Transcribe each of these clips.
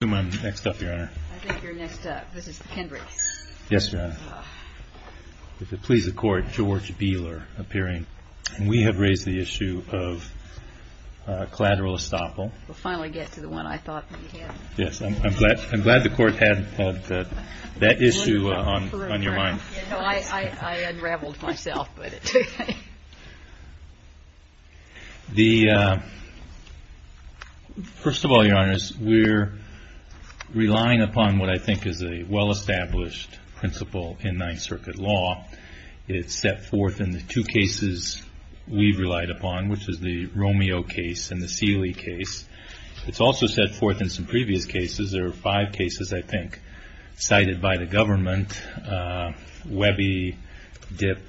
I think you're next up. This is Kendrick. Yes, Your Honor. If it pleases the court, George Beeler appearing. We have raised the issue of collateral estoppel. We'll finally get to the one I thought we had. Yes, I'm glad the court had that issue on your mind. I unraveled myself. First of all, Your Honor, we're relying upon what I think is a well-established principle in Ninth Circuit law. It's set forth in the two cases we've relied upon, which is the Romeo case and the Seeley case. It's also set forth in some previous cases. There are five cases, I think, cited by the government, Webby, Dipp,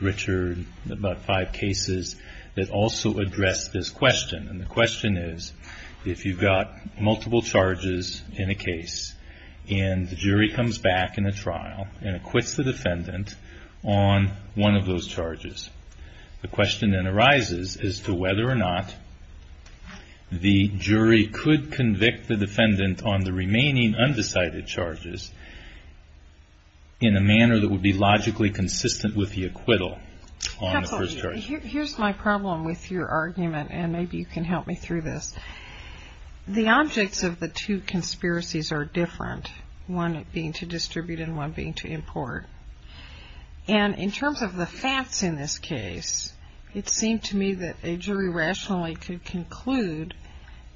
Richard, about five cases that also address this question. And the question is, if you've got multiple charges, in a case, and the jury comes back in a trial and acquits the defendant on one of those charges, the question then arises as to whether or not the jury could convict the defendant on the remaining undecided charges in a manner that would be logically consistent with the acquittal on the first charge. Here's my problem with your argument, and maybe you can help me through this. The objects of the two conspiracies are different, one being to distribute and one being to import. And in terms of the facts in this case, it seemed to me that a jury rationally could conclude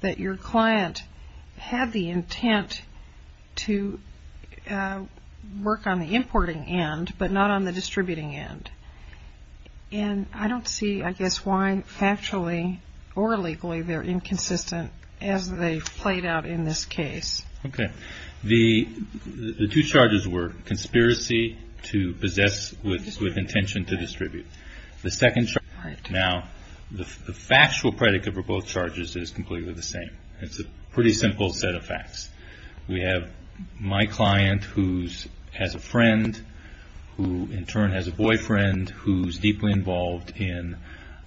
that your client had the intent to work on the importing end but not on the distributing end. And I don't see, I guess, why factually or legally they're inconsistent as they've played out in this case. The two charges were conspiracy to possess with intention to distribute. The second charge, now, the factual predicate for both charges is completely the same. It's a pretty simple set of facts. We have my client who has a friend who in turn has a boyfriend who's deeply involved in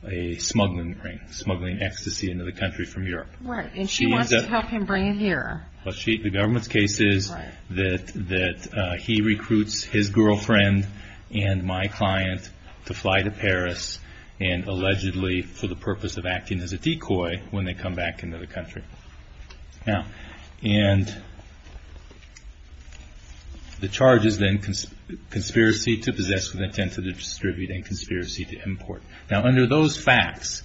a smuggling ring, smuggling ecstasy into the country from Europe. Right, and she wants to help him bring it here. The government's case is that he recruits his girlfriend and my client to fly to Paris and allegedly for the purpose of acting as a decoy when they come back into the country. Now, and the charges then, conspiracy to possess with intent to distribute and conspiracy to import. Now under those facts,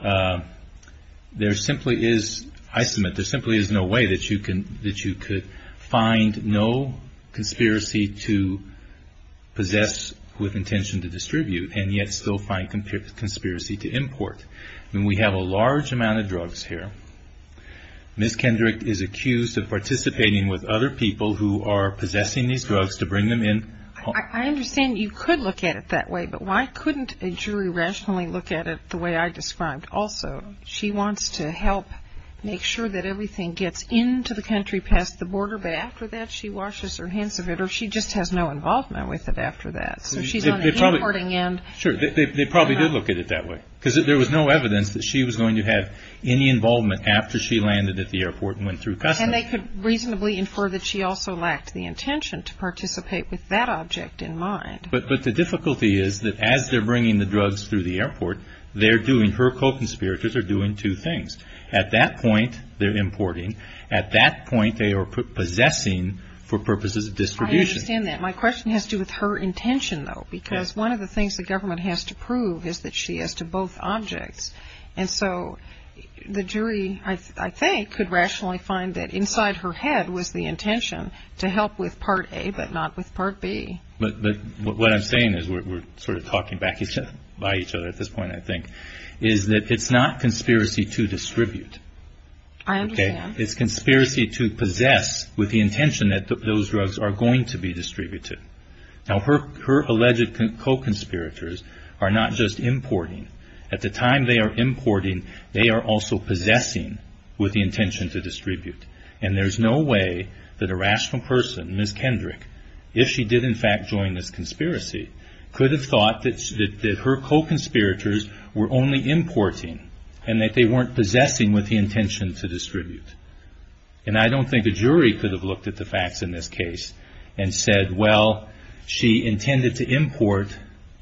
there simply is, I submit, there simply is no way that you could find no conspiracy to possess with intention to distribute and yet still find conspiracy to import. And we have a large amount of drugs here. Ms. Kendrick is accused of participating with other people who are possessing these drugs to bring them in. I understand you could look at it that way, but why couldn't a jury rationally look at it the way I described also? She wants to help make sure that everything gets into the country past the border, but after that she washes her hands of it or she just has no involvement with it after that. So she's on the importing end. Sure, they probably did look at it that way because there was no evidence that she was going to have any involvement after she landed at the airport and went through customs. And they could reasonably infer that she also lacked the intention to participate with that object in mind. But the difficulty is that as they're bringing the drugs through the airport, they're doing, her co-conspirators are doing two things. At that point, they're importing. At that point, they are possessing for purposes of distribution. I understand that. My question has to do with her intention, though, because one of the things the government has to prove is that she is to both objects. And so the jury, I think, could rationally find that inside her head was the intention to help with Part A but not with Part B. But what I'm saying is we're sort of talking back by each other at this point, I think, is that it's not conspiracy to distribute. I understand. It's conspiracy to possess with the intention that those drugs are going to be distributed. Now, her alleged co-conspirators are not just importing. At the time they are importing, they are also possessing with the intention to distribute. And there's no way that a rational person, Ms. Kendrick, if she did, in fact, join this conspiracy, could have thought that her co-conspirators were only importing and that they weren't possessing with the intention to distribute. And I don't think a jury could have looked at the facts in this case and said, well, she intended to import,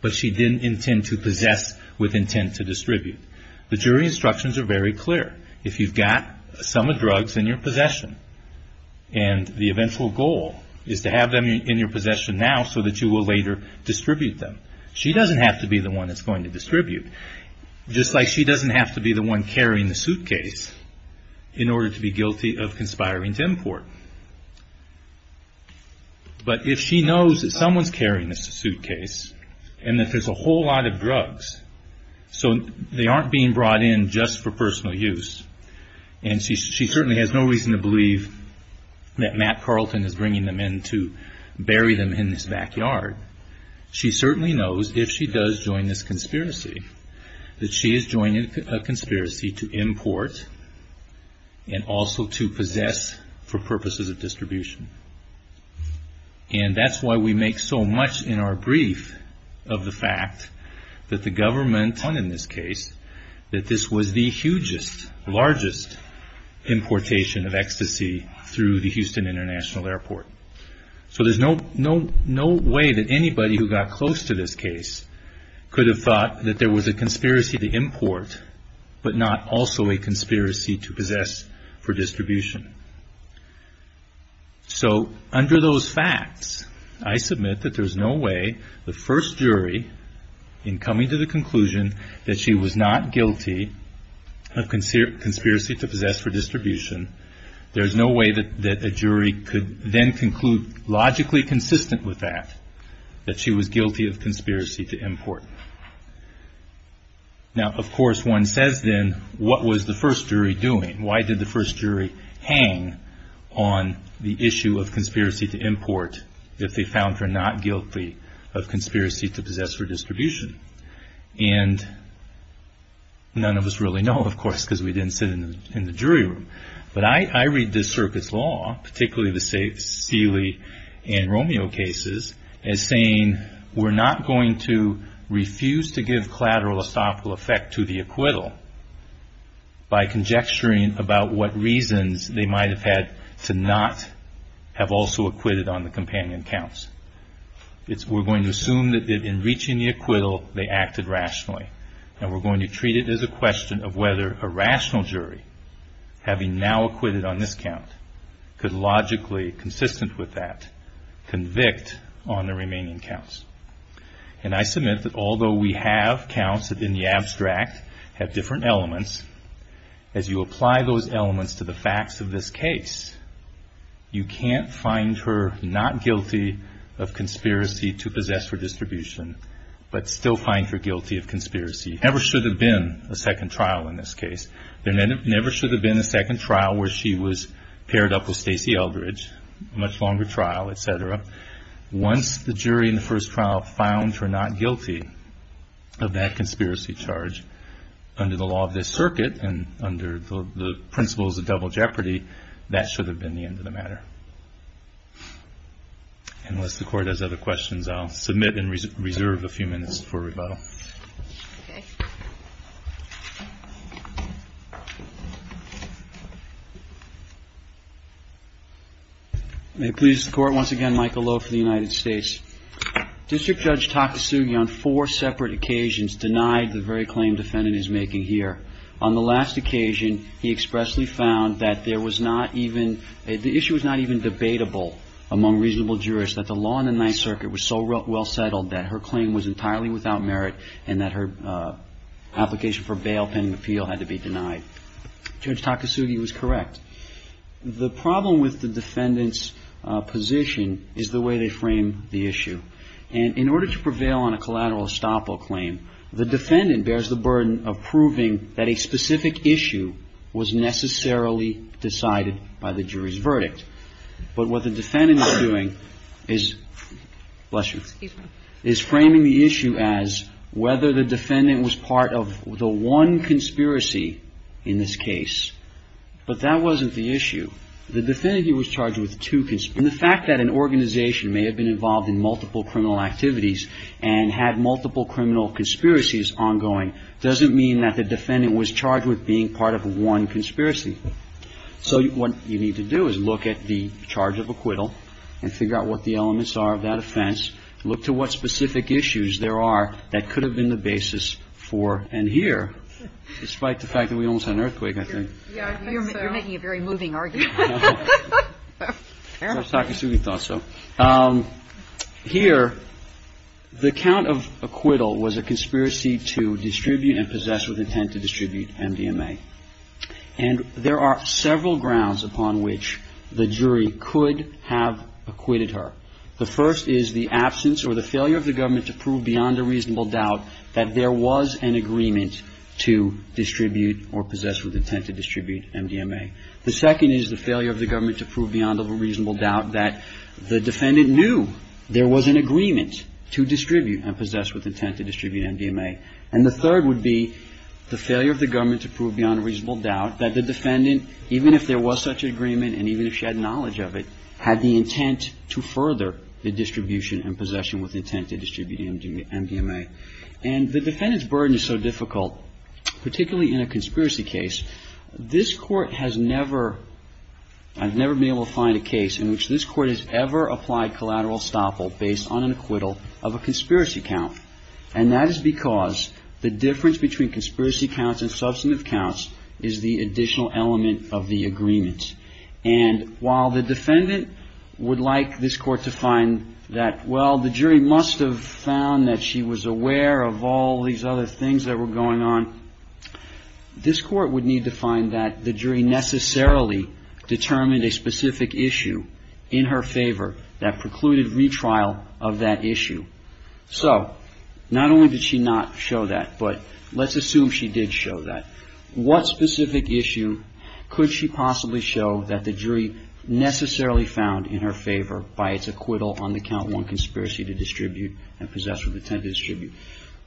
but she didn't intend to possess with intent to distribute. The jury instructions are very clear. If you've got some drugs in your possession and the eventual goal is to have them in your possession now so that you will later distribute them, she doesn't have to be the one that's going to distribute. Just like she doesn't have to be the one carrying the suitcase in order to be guilty of conspiring to import. But if she knows that someone's carrying this suitcase and that there's a whole lot of drugs, so they aren't being brought in just for personal use, and she certainly has no reason to believe that Matt Carlton is bringing them in to bury them in his backyard. She certainly knows if she does join this conspiracy that she is joining a conspiracy to import and also to possess for purposes of distribution. And that's why we make so much in our brief of the fact that the government in this case, that this was the hugest, largest importation of ecstasy through the Houston International Airport. So there's no way that anybody who got close to this case could have thought that there was a conspiracy to import, but not also a conspiracy to possess for distribution. So under those facts, I submit that there's no way the first jury, in coming to the conclusion that she was not guilty of conspiracy to possess for distribution, there's no way that a jury could then conclude logically consistent with that, that she was guilty of conspiracy to import. Now of course one says then, what was the first jury doing? Why did the first jury hang on the issue of conspiracy to import if they found her not guilty of conspiracy to possess for distribution? And none of us really know, of course, because we didn't sit in the jury room. But I read this circuit's law, particularly the Seeley and Romeo cases, as saying we're not going to refuse to give collateral estoppel effect to the acquittal by conjecturing about what reasons they might have had to not have also acquitted on the companion counts. We're going to assume that in reaching the acquittal, they acted rationally. And we're going to treat it as a question of whether a rational jury, having now acquitted on this count, could logically, consistent with that, convict on the remaining counts. And I submit that although we have counts that in the abstract have different elements, as you apply those elements to the facts of this case, you can't find her not guilty of conspiracy to possess for distribution, but still find her guilty of conspiracy. There never should have been a second trial in this case. There never should have been a second trial where she was paired up with Stacy Eldridge, a much longer trial, et cetera. Once the jury in the first trial found her not guilty of that conspiracy charge, under the law of this circuit and under the principles of double jeopardy, that should have been the end of the matter. Unless the Court has other questions, I'll submit and reserve a few minutes for rebuttal. Okay. May it please the Court, once again, Michael Lowe for the United States. District Judge Takasugi on four separate occasions denied the very claim defendant is making here. On the last occasion, he expressly found that there was not even – the issue was not even debatable among reasonable jurists that the law in the Ninth Circuit was so well settled that her claim was entirely without merit and that her application for bail pending appeal had to be denied. Judge Takasugi was correct. The problem with the defendant's position is the way they frame the issue. And in order to prevail on a collateral estoppel claim, the defendant bears the burden of proving that a specific issue was necessarily decided by the jury's verdict. But what the defendant is doing is – bless you. Excuse me. Is framing the issue as whether the defendant was part of the one conspiracy in this case. But that wasn't the issue. The defendant here was charged with two conspiracies. And the fact that an organization may have been involved in multiple criminal activities and had multiple criminal conspiracies ongoing doesn't mean that the defendant was charged with being part of one conspiracy. So what you need to do is look at the charge of acquittal and figure out what the elements are of that offense, look to what specific issues there are that could have been the basis for and here, despite the fact that we almost had an earthquake, I think. Yeah, I think so. You're making a very moving argument. No. Fair enough. Judge Takasugi thought so. Here, the count of acquittal was a conspiracy to distribute and possess with intent to distribute MDMA. And there are several grounds upon which the jury could have acquitted her. The first is the absence or the failure of the government to prove beyond a reasonable doubt that there was an agreement to distribute or possess with intent to distribute MDMA. The second is the failure of the government to prove beyond a reasonable doubt that the defendant knew there was an agreement to distribute and possess with intent to distribute MDMA. And the third would be the failure of the government to prove beyond a reasonable doubt that the defendant, even if there was such an agreement and even if she had knowledge of it, had the intent to further the distribution and possession with intent to distribute MDMA. And the defendant's burden is so difficult, particularly in a conspiracy case. This Court has never been able to find a case in which this Court has ever applied collateral estoppel based on an acquittal of a conspiracy count. And that is because the difference between conspiracy counts and substantive counts is the additional element of the agreement. And while the defendant would like this Court to find that, well, the jury must have found that she was aware of all these other things that were going on, this Court would need to find that the jury necessarily determined a specific issue in her favor that precluded retrial of that issue. So not only did she not show that, but let's assume she did show that. What specific issue could she possibly show that the jury necessarily found in her favor by its acquittal on the count one conspiracy to distribute and possess with intent to distribute?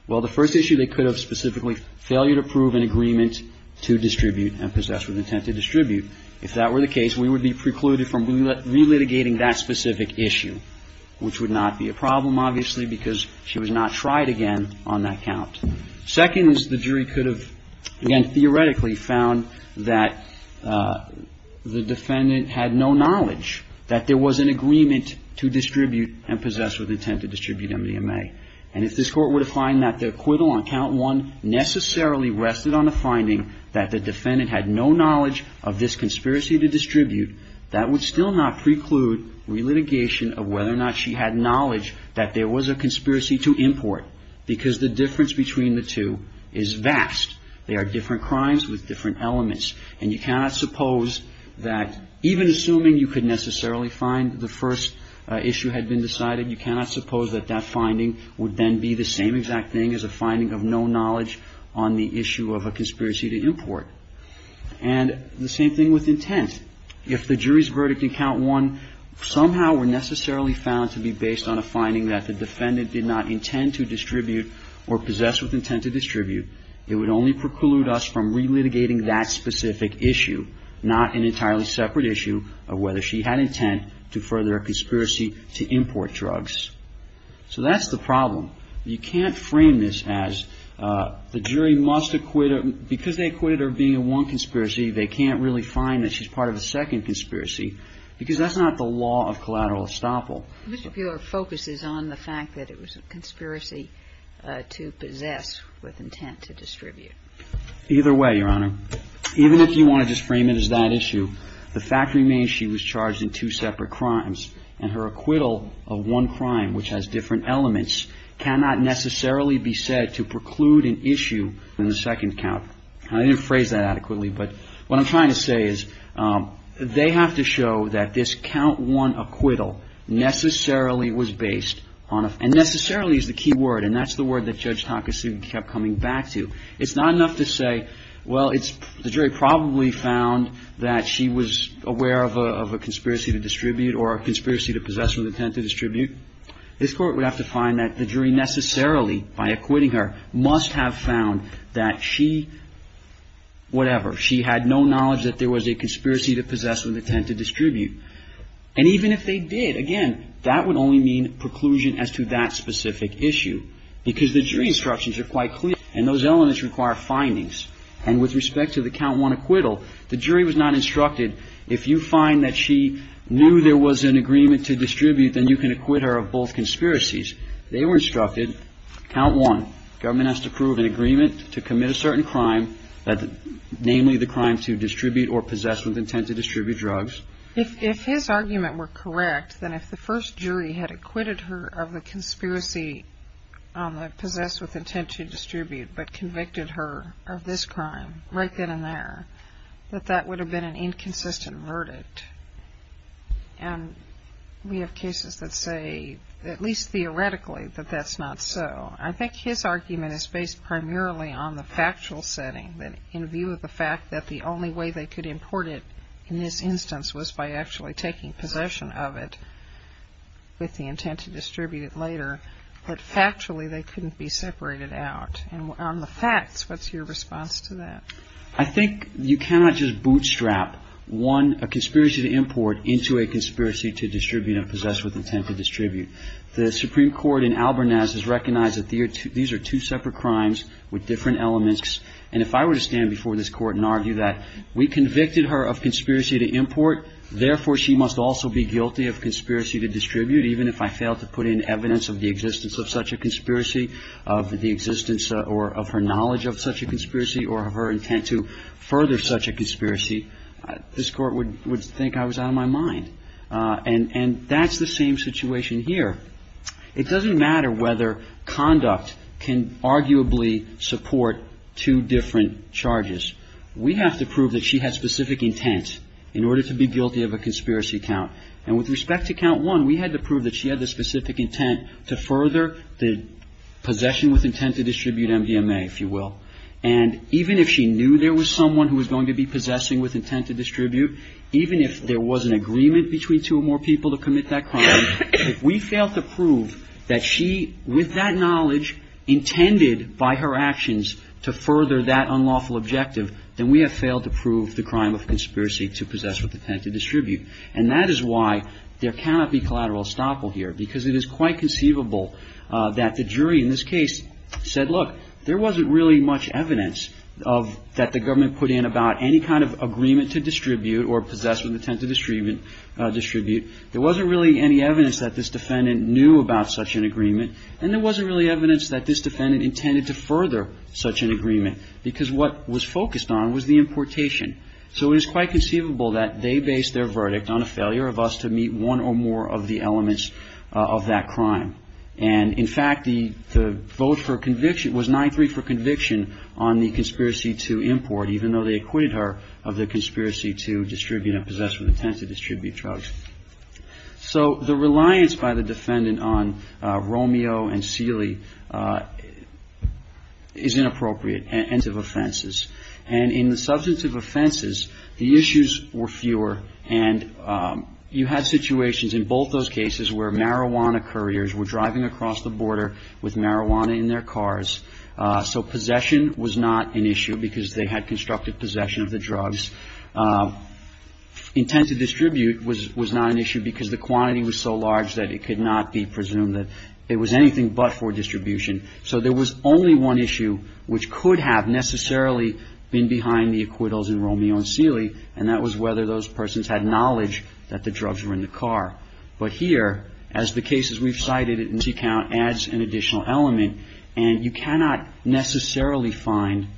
Well, the first issue they could have specifically, failure to prove an agreement to distribute and possess with intent to distribute. If that were the case, we would be precluded from relitigating that specific issue, which would not be a problem, obviously, because she was not tried again on that count. Second is the jury could have, again, theoretically found that the defendant had no knowledge that there was an agreement to distribute and possess with intent to distribute MDMA. And if this Court were to find that the acquittal on count one necessarily rested on the finding that the defendant had no knowledge of this conspiracy to distribute, that would still not preclude relitigation of whether or not she had knowledge that there was a conspiracy to import, because the difference between the two is vast. They are different crimes with different elements. And you cannot suppose that, even assuming you could necessarily find the first issue had been decided, you cannot suppose that that finding would then be the same exact thing as a finding of no knowledge on the issue of a conspiracy to import. And the same thing with intent. If the jury's verdict in count one somehow were necessarily found to be based on a finding that the defendant did not intend to distribute or possess with intent to distribute, it would only preclude us from relitigating that specific issue, not an entirely separate issue of whether she had intent to further a conspiracy to import drugs. So that's the problem. You can't frame this as the jury must acquit her. Because they acquitted her of being a one conspiracy, they can't really find that she's part of a second conspiracy, because that's not the law of collateral estoppel. Mr. Buehler focuses on the fact that it was a conspiracy to possess with intent to distribute. Either way, Your Honor. Even if you want to just frame it as that issue, the fact remains she was charged in two separate crimes. And her acquittal of one crime, which has different elements, cannot necessarily be said to preclude an issue in the second count. And I didn't phrase that adequately. But what I'm trying to say is they have to show that this count one acquittal necessarily was based on a – and necessarily is the key word, and that's the word that Judge Takasu kept coming back to. It's not enough to say, well, it's – the jury probably found that she was aware of a conspiracy to distribute or a conspiracy to possess with intent to distribute. This Court would have to find that the jury necessarily, by acquitting her, must have found that she – whatever. She had no knowledge that there was a conspiracy to possess with intent to distribute. And even if they did, again, that would only mean preclusion as to that specific issue. Because the jury instructions are quite clear, and those elements require findings. And with respect to the count one acquittal, the jury was not instructed, if you find that she knew there was an agreement to distribute, then you can acquit her of both conspiracies. They were instructed, count one, government has to approve an agreement to commit a certain crime, namely the crime to distribute or possess with intent to distribute drugs. If his argument were correct, then if the first jury had acquitted her of the conspiracy to possess with intent to distribute, but convicted her of this crime right then and there, that that would have been an inconsistent verdict. And we have cases that say, at least theoretically, that that's not so. I think his argument is based primarily on the factual setting, in view of the fact that the only way they could import it in this instance was by actually taking possession of it with the intent to distribute it later. But factually, they couldn't be separated out. And on the facts, what's your response to that? I think you cannot just bootstrap, one, a conspiracy to import, into a conspiracy to distribute and possess with intent to distribute. The Supreme Court in Alberniz has recognized that these are two separate crimes with different elements. And if I were to stand before this Court and argue that we convicted her of conspiracy to import, therefore she must also be guilty of conspiracy to distribute, even if I failed to put in evidence of the existence of such a conspiracy, of the existence or of her knowledge of such a conspiracy or of her intent to further such a conspiracy, this Court would think I was out of my mind. And that's the same situation here. It doesn't matter whether conduct can arguably support two different charges. We have to prove that she had specific intent in order to be guilty of a conspiracy count. And with respect to count one, we had to prove that she had the specific intent to further the possession with intent to distribute MDMA, if you will. And even if she knew there was someone who was going to be possessing with intent to distribute, even if there was an agreement between two or more people to commit that crime, if we failed to prove that she, with that knowledge intended by her actions, to further that unlawful objective, then we have failed to prove the crime of conspiracy to possess with intent to distribute. And that is why there cannot be collateral estoppel here, because it is quite conceivable that the jury in this case said, look, there wasn't really much evidence that the government put in about any kind of agreement to distribute or possess with intent to distribute. There wasn't really any evidence that this defendant knew about such an agreement. And there wasn't really evidence that this defendant intended to further such an agreement, because what was focused on was the importation. So it is quite conceivable that they based their verdict on a failure of us to meet one or more of the elements of that crime. And, in fact, the vote for conviction was 9-3 for conviction on the conspiracy to import, even though they acquitted her of the conspiracy to distribute or possess with intent to distribute drugs. So the reliance by the defendant on Romeo and Seeley is inappropriate and of offenses. And in the substantive offenses, the issues were fewer, and you had situations in both those cases where marijuana couriers were driving across the border with marijuana in their cars, so possession was not an issue because they had constructed possession of the drugs. Intent to distribute was not an issue because the quantity was so large that it could not be presumed that it was anything but for distribution. So there was only one issue which could have necessarily been behind the acquittals in Romeo and Seeley, and that was whether those persons had knowledge that the drugs were in the car. But here, as the cases we've cited in this account, adds an additional element, and you cannot necessarily find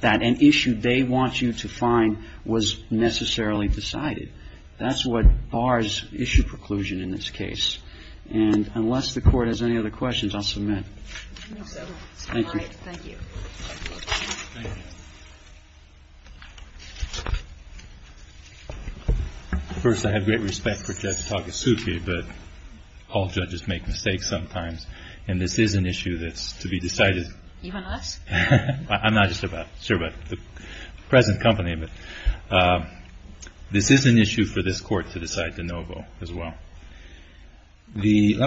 that an issue they want you to find was necessarily decided. That's what bars issue preclusion in this case. And unless the Court has any other questions, I'll submit. Thank you. Thank you. First, I have great respect for Judge Takasugi, but all judges make mistakes sometimes, and this is an issue that's to be decided. Even us? I'm not just about, sure, but the present company. But this is an issue for this Court to decide de novo as well. Let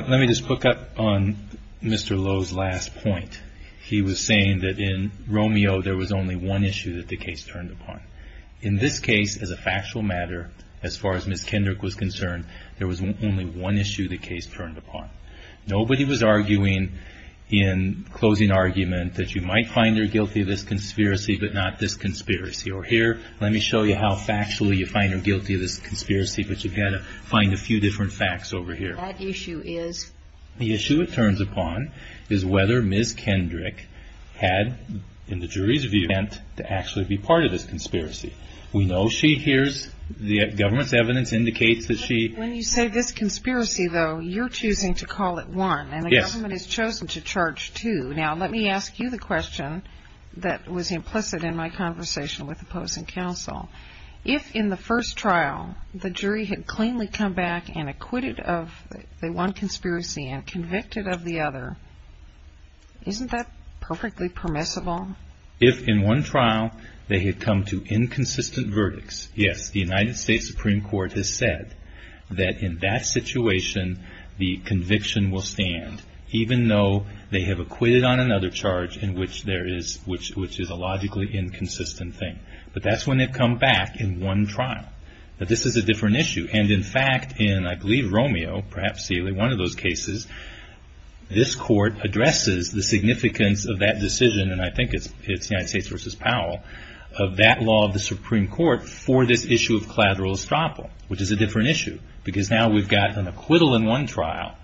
me just hook up on Mr. Lowe's last point. He was saying that in Romeo there was only one issue that the case turned upon. In this case, as a factual matter, as far as Ms. Kendrick was concerned, there was only one issue the case turned upon. Nobody was arguing in closing argument that you might find her guilty of this conspiracy, but not this conspiracy. Or here, let me show you how factually you find her guilty of this conspiracy, but you've got to find a few different facts over here. That issue is? The issue it turns upon is whether Ms. Kendrick had, in the jury's view, meant to actually be part of this conspiracy. We know she hears the government's evidence indicates that she… When you say this conspiracy, though, you're choosing to call it one. Yes. And the government has chosen to charge two. Now, let me ask you the question that was implicit in my conversation with opposing counsel. If in the first trial the jury had cleanly come back and acquitted of the one conspiracy and convicted of the other, isn't that perfectly permissible? If in one trial they had come to inconsistent verdicts, yes, the United States Supreme Court has said that in that situation the conviction will stand, even though they have acquitted on another charge in which there is a logically inconsistent thing. But that's when they've come back in one trial. But this is a different issue. And, in fact, in I believe Romeo, perhaps Sealy, one of those cases, this court addresses the significance of that decision, and I think it's the United States v. Powell, of that law of the Supreme Court for this issue of collateral estoppel, which is a different issue because now we've got an acquittal in one trial.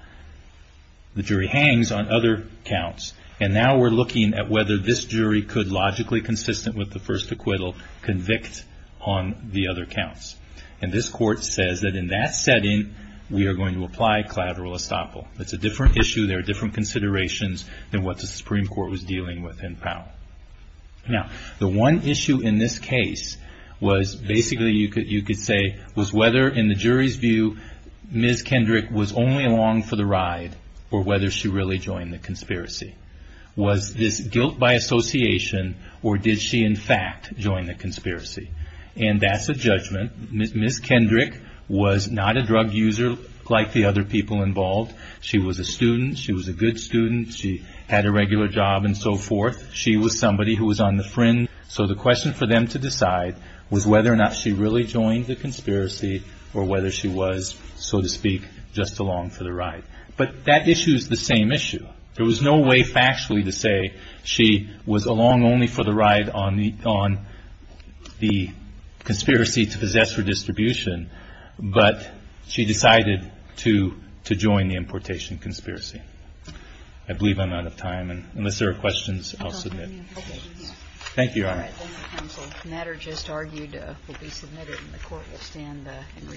The jury hangs on other counts. And now we're looking at whether this jury could logically consistent with the first acquittal, convict on the other counts. And this court says that in that setting we are going to apply collateral estoppel. It's a different issue. There are different considerations than what the Supreme Court was dealing with in Powell. Now, the one issue in this case was basically you could say was whether in the jury's view Ms. Kendrick was only along for the ride or whether she really joined the conspiracy. Was this guilt by association or did she, in fact, join the conspiracy? And that's a judgment. Ms. Kendrick was not a drug user like the other people involved. She was a student. She was a good student. She had a regular job and so forth. She was somebody who was on the fringe. So the question for them to decide was whether or not she really joined the conspiracy or whether she was, so to speak, just along for the ride. But that issue is the same issue. There was no way factually to say she was along only for the ride on the conspiracy to possess her distribution, but she decided to join the importation conspiracy. I believe I'm out of time. And unless there are questions, I'll submit. Thank you, Your Honor. All right, thank you, counsel. The matter just argued will be submitted and the court will stand in recess for the day.